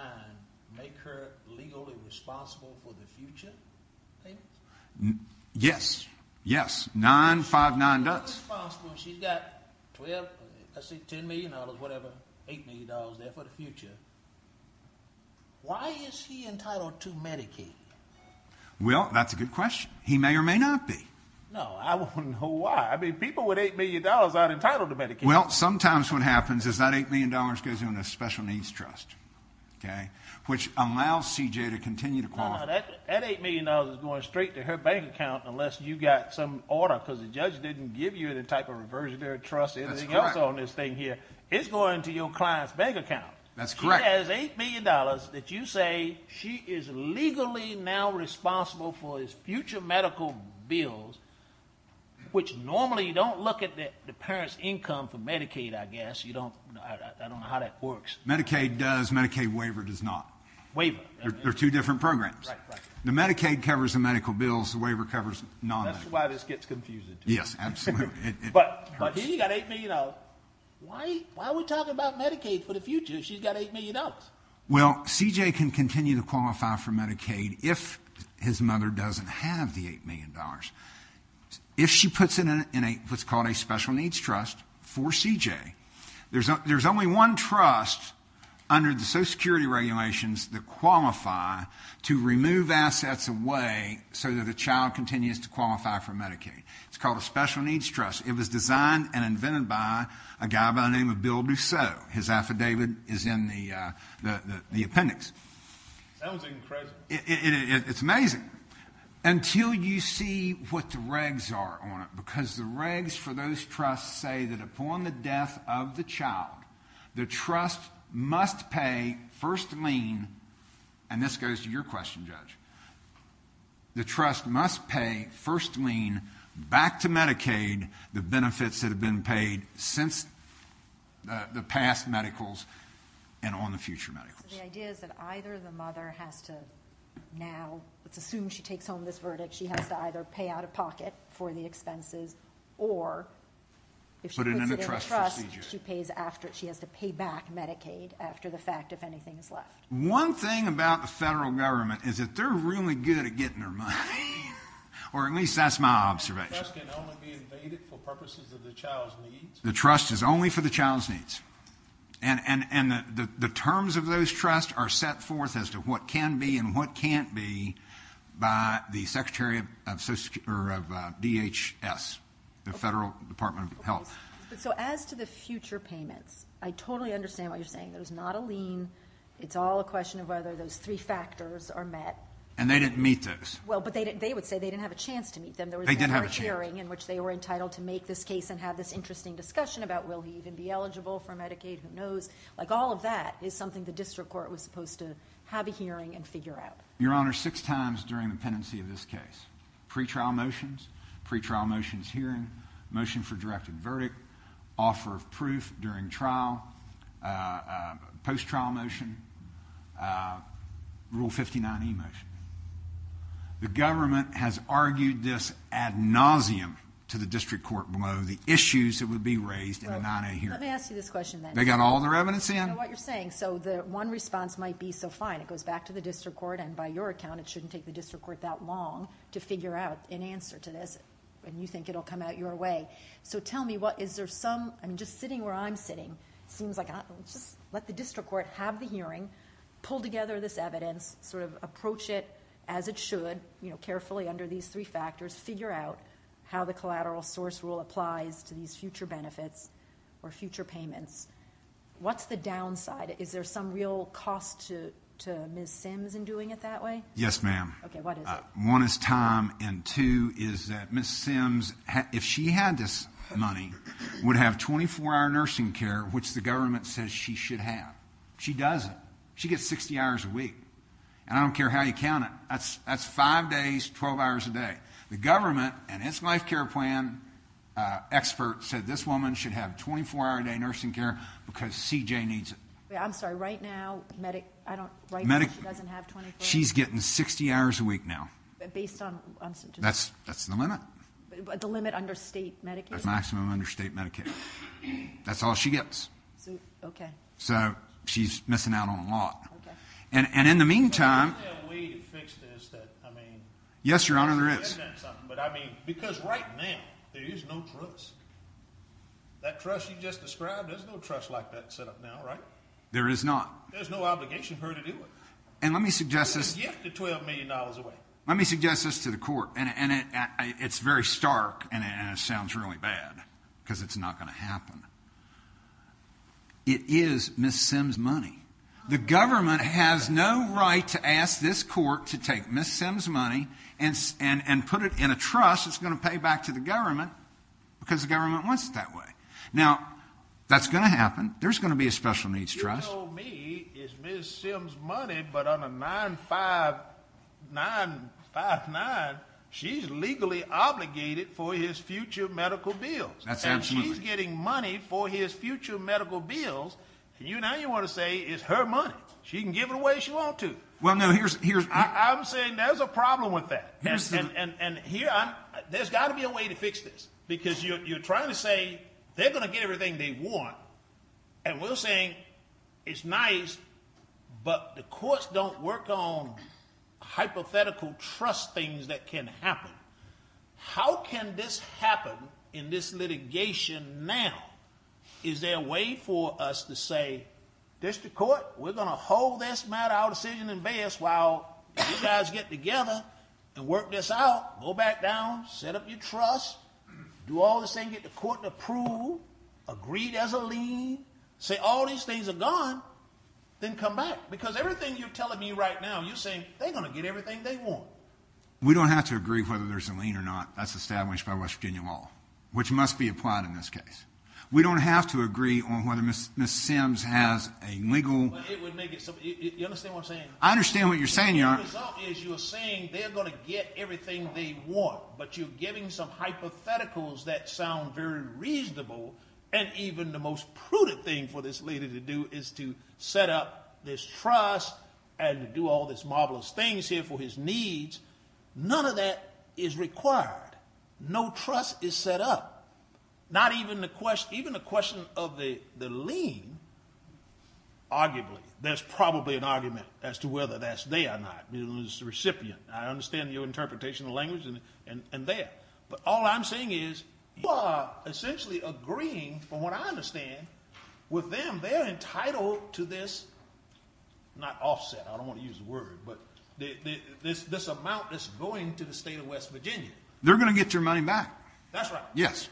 make her legally responsible for the future? Yes. Yes. 959 does. She's got $10 million, whatever, $8 million there for the future. Why is he entitled to Medicaid? Well, that's a good question. He may or may not be. No, I wouldn't know why. I mean, people with $8 million aren't entitled to Medicaid. Well, sometimes what happens is that $8 million goes into a special needs trust, which allows CJ to continue to qualify. That $8 million is going straight to her bank account unless you got some order because the judge didn't give you the type of reversionary trust anything else on this thing here. It's going to your client's bank account. That's correct. She has $8 million that you say she is legally now responsible for because there's future medical bills, which normally you don't look at the parent's income for Medicaid, I guess. I don't know how that works. Medicaid does. Medicaid waiver does not. Waiver. They're two different programs. Right, right. The Medicaid covers the medical bills. The waiver covers non-medicare. That's why this gets confusing. Yes, absolutely. But here you got $8 million. Why are we talking about Medicaid for the future? She's got $8 million. Well, CJ can continue to qualify for Medicaid if his mother doesn't have the $8 million. If she puts it in what's called a special needs trust for CJ, there's only one trust under the Social Security regulations that qualify to remove assets away so that the child continues to qualify for Medicaid. It's called a special needs trust. It was designed and invented by a guy by the name of Bill Douceau. His affidavit is in the appendix. That was incredible. It's amazing. Until you see what the regs are on it, because the regs for those trusts say that upon the death of the child, the trust must pay first lien, and this goes to your question, Judge, the trust must pay first lien back to Medicaid the benefits that have been paid since the past medicals and on the future medicals. So the idea is that either the mother has to now, let's assume she takes home this verdict, she has to either pay out of pocket for the expenses or if she puts it in a trust, she has to pay back Medicaid after the fact if anything is left. One thing about the federal government is that they're really good at getting their money, or at least that's my observation. So the trust can only be invaded for purposes of the child's needs? The trust is only for the child's needs. And the terms of those trusts are set forth as to what can be and what can't be by the Secretary of DHS, the Federal Department of Health. So as to the future payments, I totally understand what you're saying. It was not a lien. It's all a question of whether those three factors are met. And they didn't meet those. Well, but they would say they didn't have a chance to meet them. They didn't have a chance. They didn't have a hearing in which they were entitled to make this case and have this interesting discussion about will he even be eligible for Medicaid, who knows, like all of that is something the district court was supposed to have a hearing and figure out. Your Honor, six times during the pendency of this case, pre-trial motions, pre-trial motions hearing, motion for directed verdict, offer of proof during trial, post-trial motion, Rule 59E motion. The government has argued this ad nauseum to the district court below, the issues that would be raised in a non-a hearing. Let me ask you this question then. They got all their evidence in. I know what you're saying. So the one response might be, so fine, it goes back to the district court, and by your account, it shouldn't take the district court that long to figure out an answer to this, and you think it will come out your way. So tell me, is there some – I'm just sitting where I'm sitting. It seems like – let the district court have the hearing, pull together this evidence, sort of approach it as it should, carefully under these three factors, figure out how the collateral source rule applies to these future benefits or future payments. What's the downside? Is there some real cost to Ms. Sims in doing it that way? Yes, ma'am. Okay, what is it? One is time, and two is that Ms. Sims, if she had this money, would have 24-hour nursing care, which the government says she should have. She doesn't. She gets 60 hours a week, and I don't care how you count it. That's five days, 12 hours a day. The government and its life care plan expert said this woman should have 24-hour a day nursing care because CJ needs it. I'm sorry, right now, she doesn't have 24? She's getting 60 hours a week now. Based on – That's the limit. The limit under state Medicaid? The maximum under state Medicaid. That's all she gets. Okay. So she's missing out on a lot. Okay. And in the meantime – Is there a way to fix this that, I mean – Yes, Your Honor, there is. But, I mean, because right now there is no trust. That trust you just described, there's no trust like that set up now, right? There is not. There's no obligation for her to do it. And let me suggest this – A gift of $12 million away. Let me suggest this to the court, and it's very stark, and it sounds really bad because it's not going to happen. It is Ms. Sims' money. The government has no right to ask this court to take Ms. Sims' money and put it in a trust that's going to pay back to the government because the government wants it that way. Now, that's going to happen. There's going to be a special needs trust. You told me it's Ms. Sims' money, but on a 959, she's legally obligated for his future medical bills. And she's getting money for his future medical bills. Now you want to say it's her money. She can give it away as she wants to. I'm saying there's a problem with that. And here, there's got to be a way to fix this because you're trying to say they're going to get everything they want, and we're saying it's nice, but the courts don't work on hypothetical trust things that can happen. How can this happen in this litigation now? Is there a way for us to say, District Court, we're going to hold this matter, our decision, and best while you guys get together and work this out, go back down, set up your trust, do all this thing, get the court to approve, agree there's a lien, say all these things are gone, then come back. Because everything you're telling me right now, you're saying they're going to get everything they want. We don't have to agree whether there's a lien or not. That's established by West Virginia law, which must be applied in this case. We don't have to agree on whether Ms. Sims has a legal... You understand what I'm saying? I understand what you're saying, Your Honor. The result is you're saying they're going to get everything they want, but you're giving some hypotheticals that sound very reasonable and even the most prudent thing for this lady to do is to set up this trust and to do all these marvelous things here for his needs. None of that is required. No trust is set up. Not even the question of the lien, arguably, there's probably an argument as to whether that's there or not. It's the recipient. I understand your interpretation of language and there. All I'm saying is you are essentially agreeing, from what I understand, with them. They're entitled to this, not offset, I don't want to use the word, but this amount that's going to the state of West Virginia. They're going to get their money back. That's right. Yes.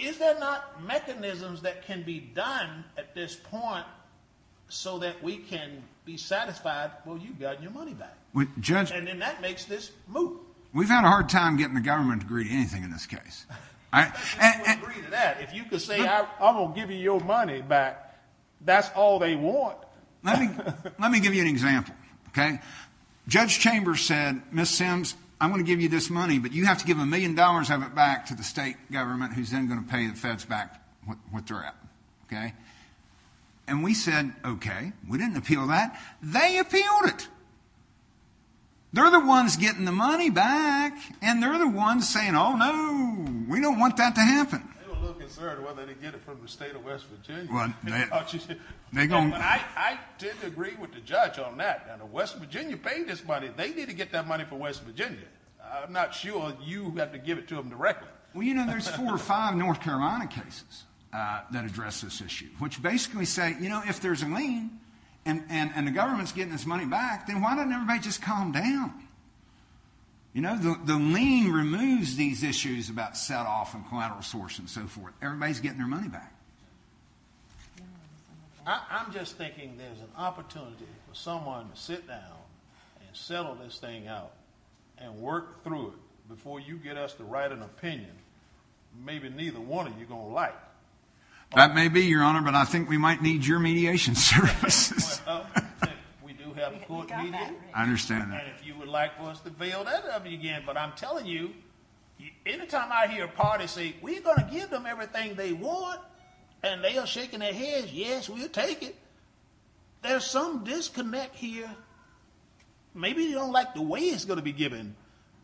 Is there not mechanisms that can be done at this point so that we can be satisfied, well, you've got your money back, and then that makes this move? We've had a hard time getting the government to agree to anything in this case. I don't think they would agree to that. If you could say, I'm going to give you your money back, that's all they want. Let me give you an example. Judge Chambers said, Miss Sims, I'm going to give you this money, but you have to give a million dollars of it back to the state government who's then going to pay the feds back what they're at. And we said, okay. We didn't appeal that. They appealed it. They're the ones getting the money back, and they're the ones saying, oh, no, we don't want that to happen. I'm a little concerned whether they get it from the state of West Virginia. I didn't agree with the judge on that. Now, West Virginia paid this money. They need to get that money from West Virginia. I'm not sure you have to give it to them directly. Well, you know, there's four or five North Carolina cases that address this issue, which basically say, you know, if there's a lien and the government's getting this money back, then why doesn't everybody just calm down? You know, the lien removes these issues about setoff and collateral source and so forth. Everybody's getting their money back. I'm just thinking there's an opportunity for someone to sit down and settle this thing out and work through it before you get us to write an opinion maybe neither one of you are going to like. That may be, Your Honor, but I think we might need your mediation services. We do have court media. I understand that. And if you would like for us to bail that out again. But I'm telling you, any time I hear a party say, we're going to give them everything they want and they are shaking their heads, yes, we'll take it. There's some disconnect here. Maybe you don't like the way it's going to be given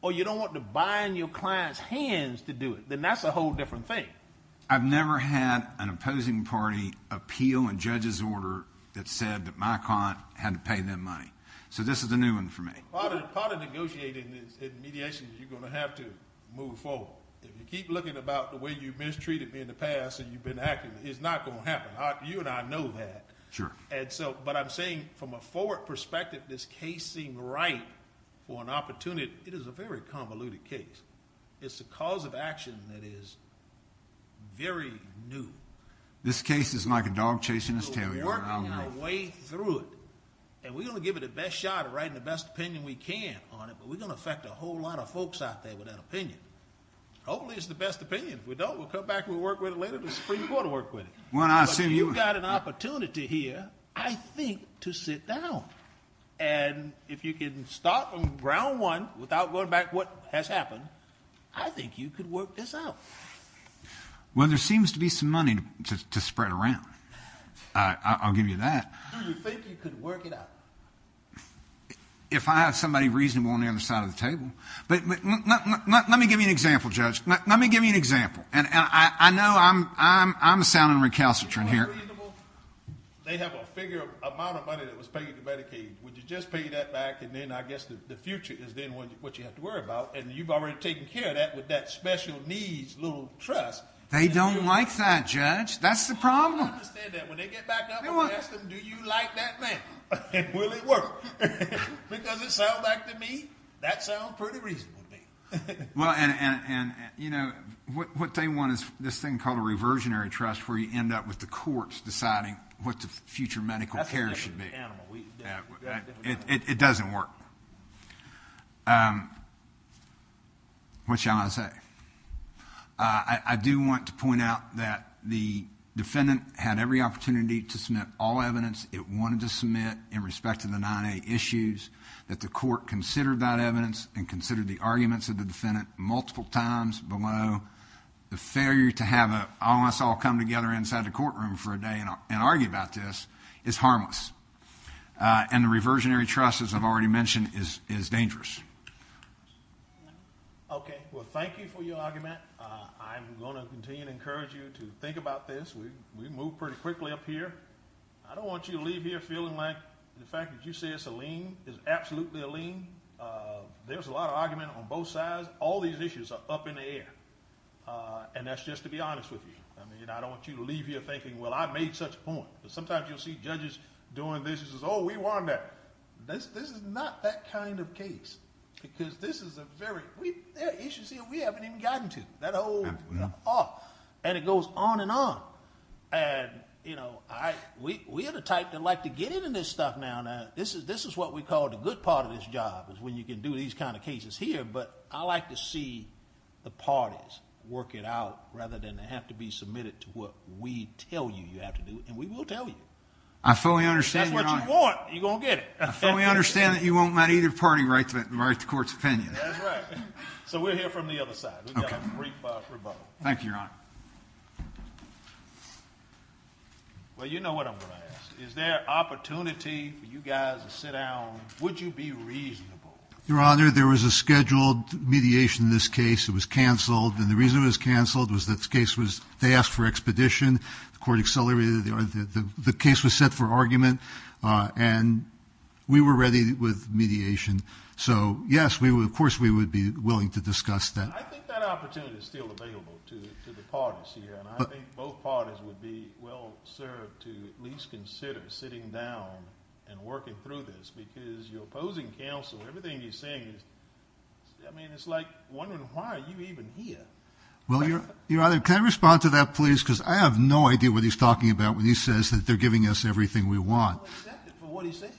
or you don't want to bind your client's hands to do it. Then that's a whole different thing. I've never had an opposing party appeal a judge's order that said that my client had to pay them money. So this is a new one for me. Part of negotiating is mediation. You're going to have to move forward. If you keep looking about the way you mistreated me in the past and you've been acting, it's not going to happen. You and I know that. Sure. But I'm saying from a forward perspective, this case seemed right for an opportunity. It is a very convoluted case. It's a cause of action that is very new. This case is like a dog chasing its tail. We're working our way through it. And we're going to give it the best shot and write the best opinion we can on it, but we're going to affect a whole lot of folks out there with that opinion. Hopefully it's the best opinion. If we don't, we'll come back and we'll work with it later. The Supreme Court will work with it. But you've got an opportunity here, I think, to sit down. And if you can start from ground one without going back to what has happened, I think you could work this out. Well, there seems to be some money to spread around. I'll give you that. Do you think you could work it out? If I have somebody reasonable on the other side of the table. But let me give you an example, Judge. Let me give you an example. And I know I'm sounding recalcitrant here. They have a figure amount of money that was paid to Medicaid. Would you just pay that back? And then I guess the future is then what you have to worry about. And you've already taken care of that with that special needs little trust. They don't like that, Judge. That's the problem. I don't understand that. When they get back up and ask them, do you like that man? And will it work? Because it sounds like to me, that sounds pretty reasonable to me. Well, and, you know, what they want is this thing called a reversionary trust where you end up with the courts deciding what the future medical care should be. It doesn't work. What shall I say? I do want to point out that the defendant had every opportunity to submit all evidence it wanted to submit in respect to the 9A issues, that the court considered that evidence and considered the arguments of the defendant multiple times below. The failure to have all of us all come together inside the courtroom for a day and argue about this is harmless. And the reversionary trust, as I've already mentioned, is dangerous. Okay. Well, thank you for your argument. I'm going to continue to encourage you to think about this. We moved pretty quickly up here. I don't want you to leave here feeling like the fact that you say it's a lien is absolutely a lien. There's a lot of argument on both sides. All these issues are up in the air, and that's just to be honest with you. I mean, I don't want you to leave here thinking, well, I made such a point. But sometimes you'll see judges doing this and say, oh, we won that. This is not that kind of case because this is a very... There are issues here we haven't even gotten to, that whole arc, and it goes on and on. And, you know, we're the type that like to get into this stuff now. This is what we call the good part of this job is when you can do these kind of cases here. But I like to see the parties work it out rather than have to be submitted to what we tell you you have to do. And we will tell you. I fully understand, Your Honor. If that's what you want, you're going to get it. I fully understand that you won't let either party write the court's opinion. That's right. So we're here from the other side. We've got a brief rebuttal. Thank you, Your Honor. Well, you know what I'm going to ask. Is there opportunity for you guys to sit down? Would you be reasonable? Your Honor, there was a scheduled mediation in this case. It was canceled. And the reason it was canceled was the case was they asked for expedition. The court accelerated it. The case was set for argument. And we were ready with mediation. So, yes, of course we would be willing to discuss that. I think that opportunity is still available to the parties here. And I think both parties would be well served to at least consider sitting down and working through this because your opposing counsel, everything he's saying, I mean, it's like wondering why you're even here. Well, Your Honor, can I respond to that, please? Because I have no idea what he's talking about when he says that they're giving us everything we want. I don't accept it for what he's saying.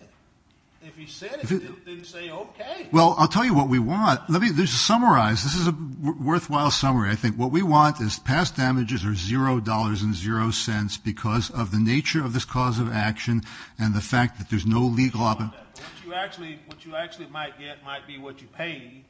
If he said it, then say okay. Well, I'll tell you what we want. Let me just summarize. This is a worthwhile summary. I think what we want is past damages are $0.00 because of the nature of this cause of action and the fact that there's no legal option. What you actually might get might be what you pay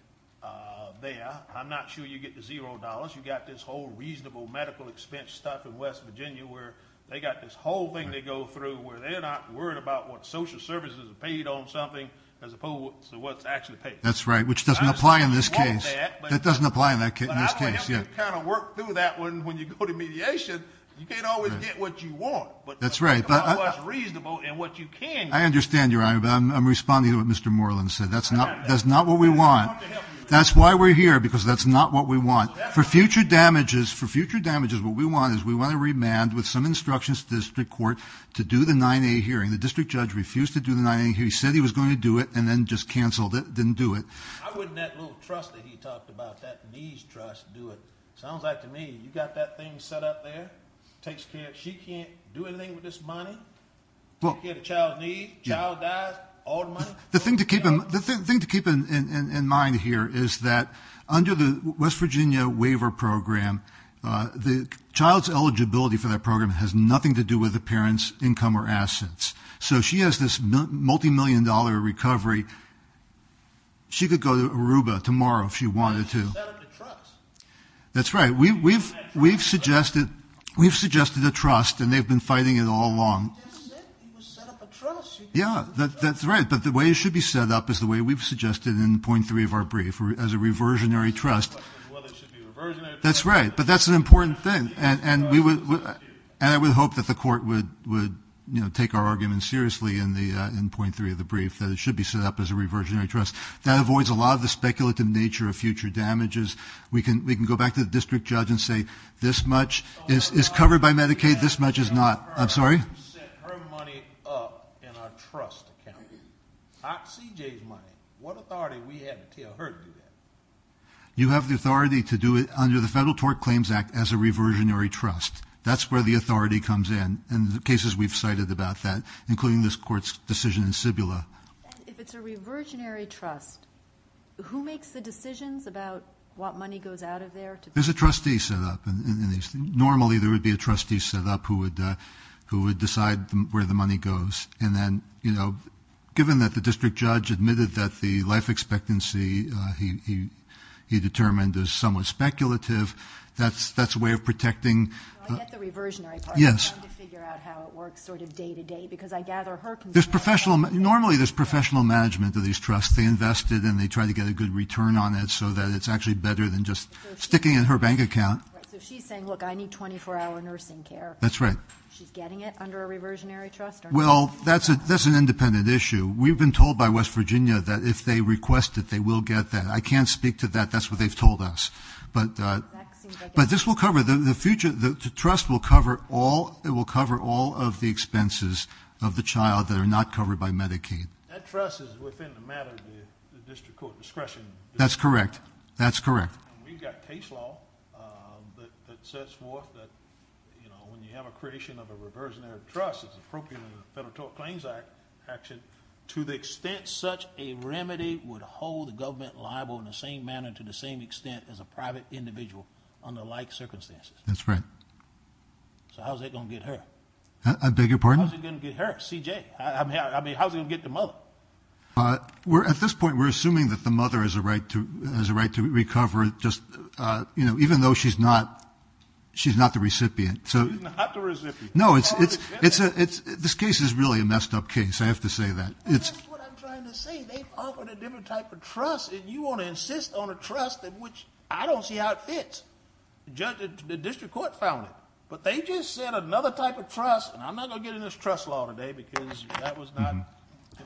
there. I'm not sure you get the $0.00. You got this whole reasonable medical expense stuff in West Virginia where they got this whole thing they go through where they're not worried about what social services are paid on something as opposed to what's actually paid. That's right, which doesn't apply in this case. That doesn't apply in this case. But I would have to kind of work through that when you go to mediation. You can't always get what you want. That's right. But what's reasonable and what you can get. I understand, Your Honor, but I'm responding to what Mr. Moreland said. That's not what we want. That's why we're here because that's not what we want. For future damages, what we want is we want to remand with some instructions to the district court to do the 9A hearing. The district judge refused to do the 9A hearing. He said he was going to do it and then just canceled it, didn't do it. I wouldn't let little trust that he talked about, that niece trust, do it. Sounds like to me you got that thing set up there. She can't do anything with this money. You get a child's needs, child dies, all the money. The thing to keep in mind here is that under the West Virginia waiver program, the child's eligibility for that program has nothing to do with the parent's income or assets. So she has this multimillion-dollar recovery. She could go to Aruba tomorrow if she wanted to. That's right. We've suggested a trust, and they've been fighting it all along. He didn't say he set up a trust. Yeah, that's right. But the way it should be set up is the way we've suggested in point three of our brief, as a reversionary trust. Well, it should be a reversionary trust. That's right. But that's an important thing. And I would hope that the court would take our argument seriously in point three of the brief, that it should be set up as a reversionary trust. That avoids a lot of the speculative nature of future damages. We can go back to the district judge and say this much is covered by Medicaid, this much is not. I'm sorry? You set her money up in our trust account, not C.J.'s money. What authority do we have to tell her to do that? You have the authority to do it under the Federal Tort Claims Act as a reversionary trust. That's where the authority comes in. And the cases we've cited about that, including this court's decision in Cibola. If it's a reversionary trust, who makes the decisions about what money goes out of there? There's a trustee set up. Normally there would be a trustee set up who would decide where the money goes. And then, you know, given that the district judge admitted that the life expectancy he determined is somewhat speculative, that's a way of protecting. I get the reversionary part. Yes. I'm trying to figure out how it works sort of day to day because I gather her concerns. Normally there's professional management of these trusts. They invest it and they try to get a good return on it so that it's actually better than just sticking it in her bank account. So she's saying, look, I need 24-hour nursing care. That's right. She's getting it under a reversionary trust? Well, that's an independent issue. We've been told by West Virginia that if they request it, they will get that. I can't speak to that. That's what they've told us. But this will cover the future. The trust will cover all of the expenses of the child that are not covered by Medicaid. That trust is within the matter of the district court discretion. That's correct. That's correct. We've got case law that sets forth that, you know, when you have a creation of a reversionary trust, it's appropriate in the Federal Tort Claims Act action to the extent such a remedy would hold the government liable in the same manner, to the same extent, as a private individual under like circumstances. That's right. So how's that going to get her? I beg your pardon? How's it going to get her, C.J.? I mean, how's it going to get the mother? At this point, we're assuming that the mother has a right to recover just, you know, even though she's not the recipient. She's not the recipient. No, this case is really a messed up case. I have to say that. That's what I'm trying to say. They've offered a different type of trust, and you want to insist on a trust in which I don't see how it fits. The district court found it. But they just said another type of trust, and I'm not going to get into this trust law today because that was not an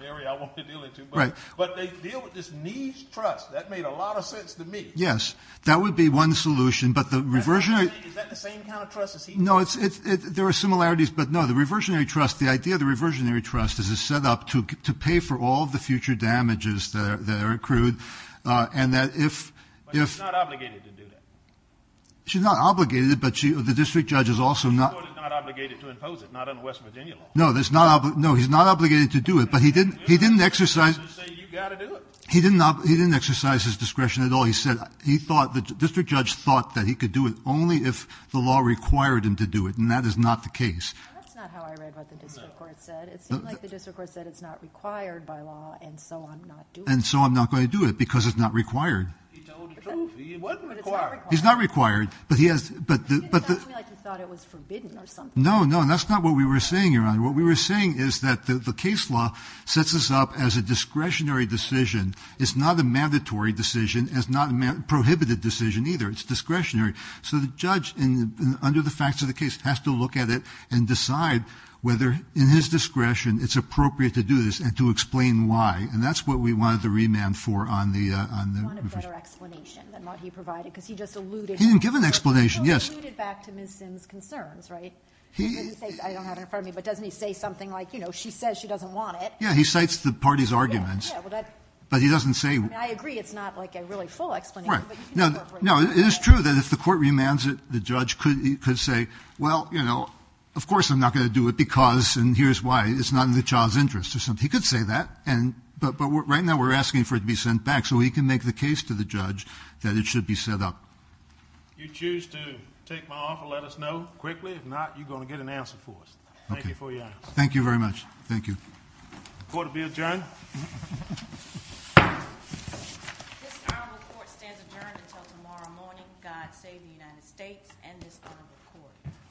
area I wanted to deal with too much. Right. But they deal with this needs trust. That made a lot of sense to me. Yes. That would be one solution. Is that the same kind of trust as he did? No, there are similarities. But, no, the idea of the reversionary trust is it's set up to pay for all the future damages that are accrued. But she's not obligated to do that. She's not obligated, but the district judge is also not. The district court is not obligated to impose it, not under West Virginia law. No, he's not obligated to do it, but he didn't exercise his discretion at all. The district judge thought that he could do it only if the law required him to do it, and that is not the case. That's not how I read what the district court said. It seemed like the district court said it's not required by law, and so I'm not doing it. And so I'm not going to do it because it's not required. He told the truth. He wasn't required. But it's not required. He's not required. But he has to be like he thought it was forbidden or something. No, no, and that's not what we were saying, Your Honor. What we were saying is that the case law sets us up as a discretionary decision. It's not a mandatory decision. It's not a prohibited decision, either. It's discretionary. So the judge, under the facts of the case, has to look at it and decide whether, in his discretion, it's appropriate to do this and to explain why. And that's what we wanted the remand for on the ---- He wanted a better explanation than what he provided because he just alluded ---- He didn't give an explanation, yes. He alluded back to Ms. Simms' concerns, right? I don't have it in front of me, but doesn't he say something like, you know, she says she doesn't want it. Yeah, he cites the party's arguments. Yeah, well, that ---- But he doesn't say ---- I mean, I agree it's not like a really full explanation. Right. No, it is true that if the court remands it, the judge could say, well, you know, of course I'm not going to do it because, and here's why, it's not in the child's interest or something. He could say that, but right now we're asking for it to be sent back so he can make the case to the judge that it should be set up. If you choose to take my offer, let us know quickly. If not, you're going to get an answer for us. Okay. Thank you for your answer. Thank you very much. Thank you. The court will be adjourned. This hour report stands adjourned until tomorrow morning. God save the United States and this hour report.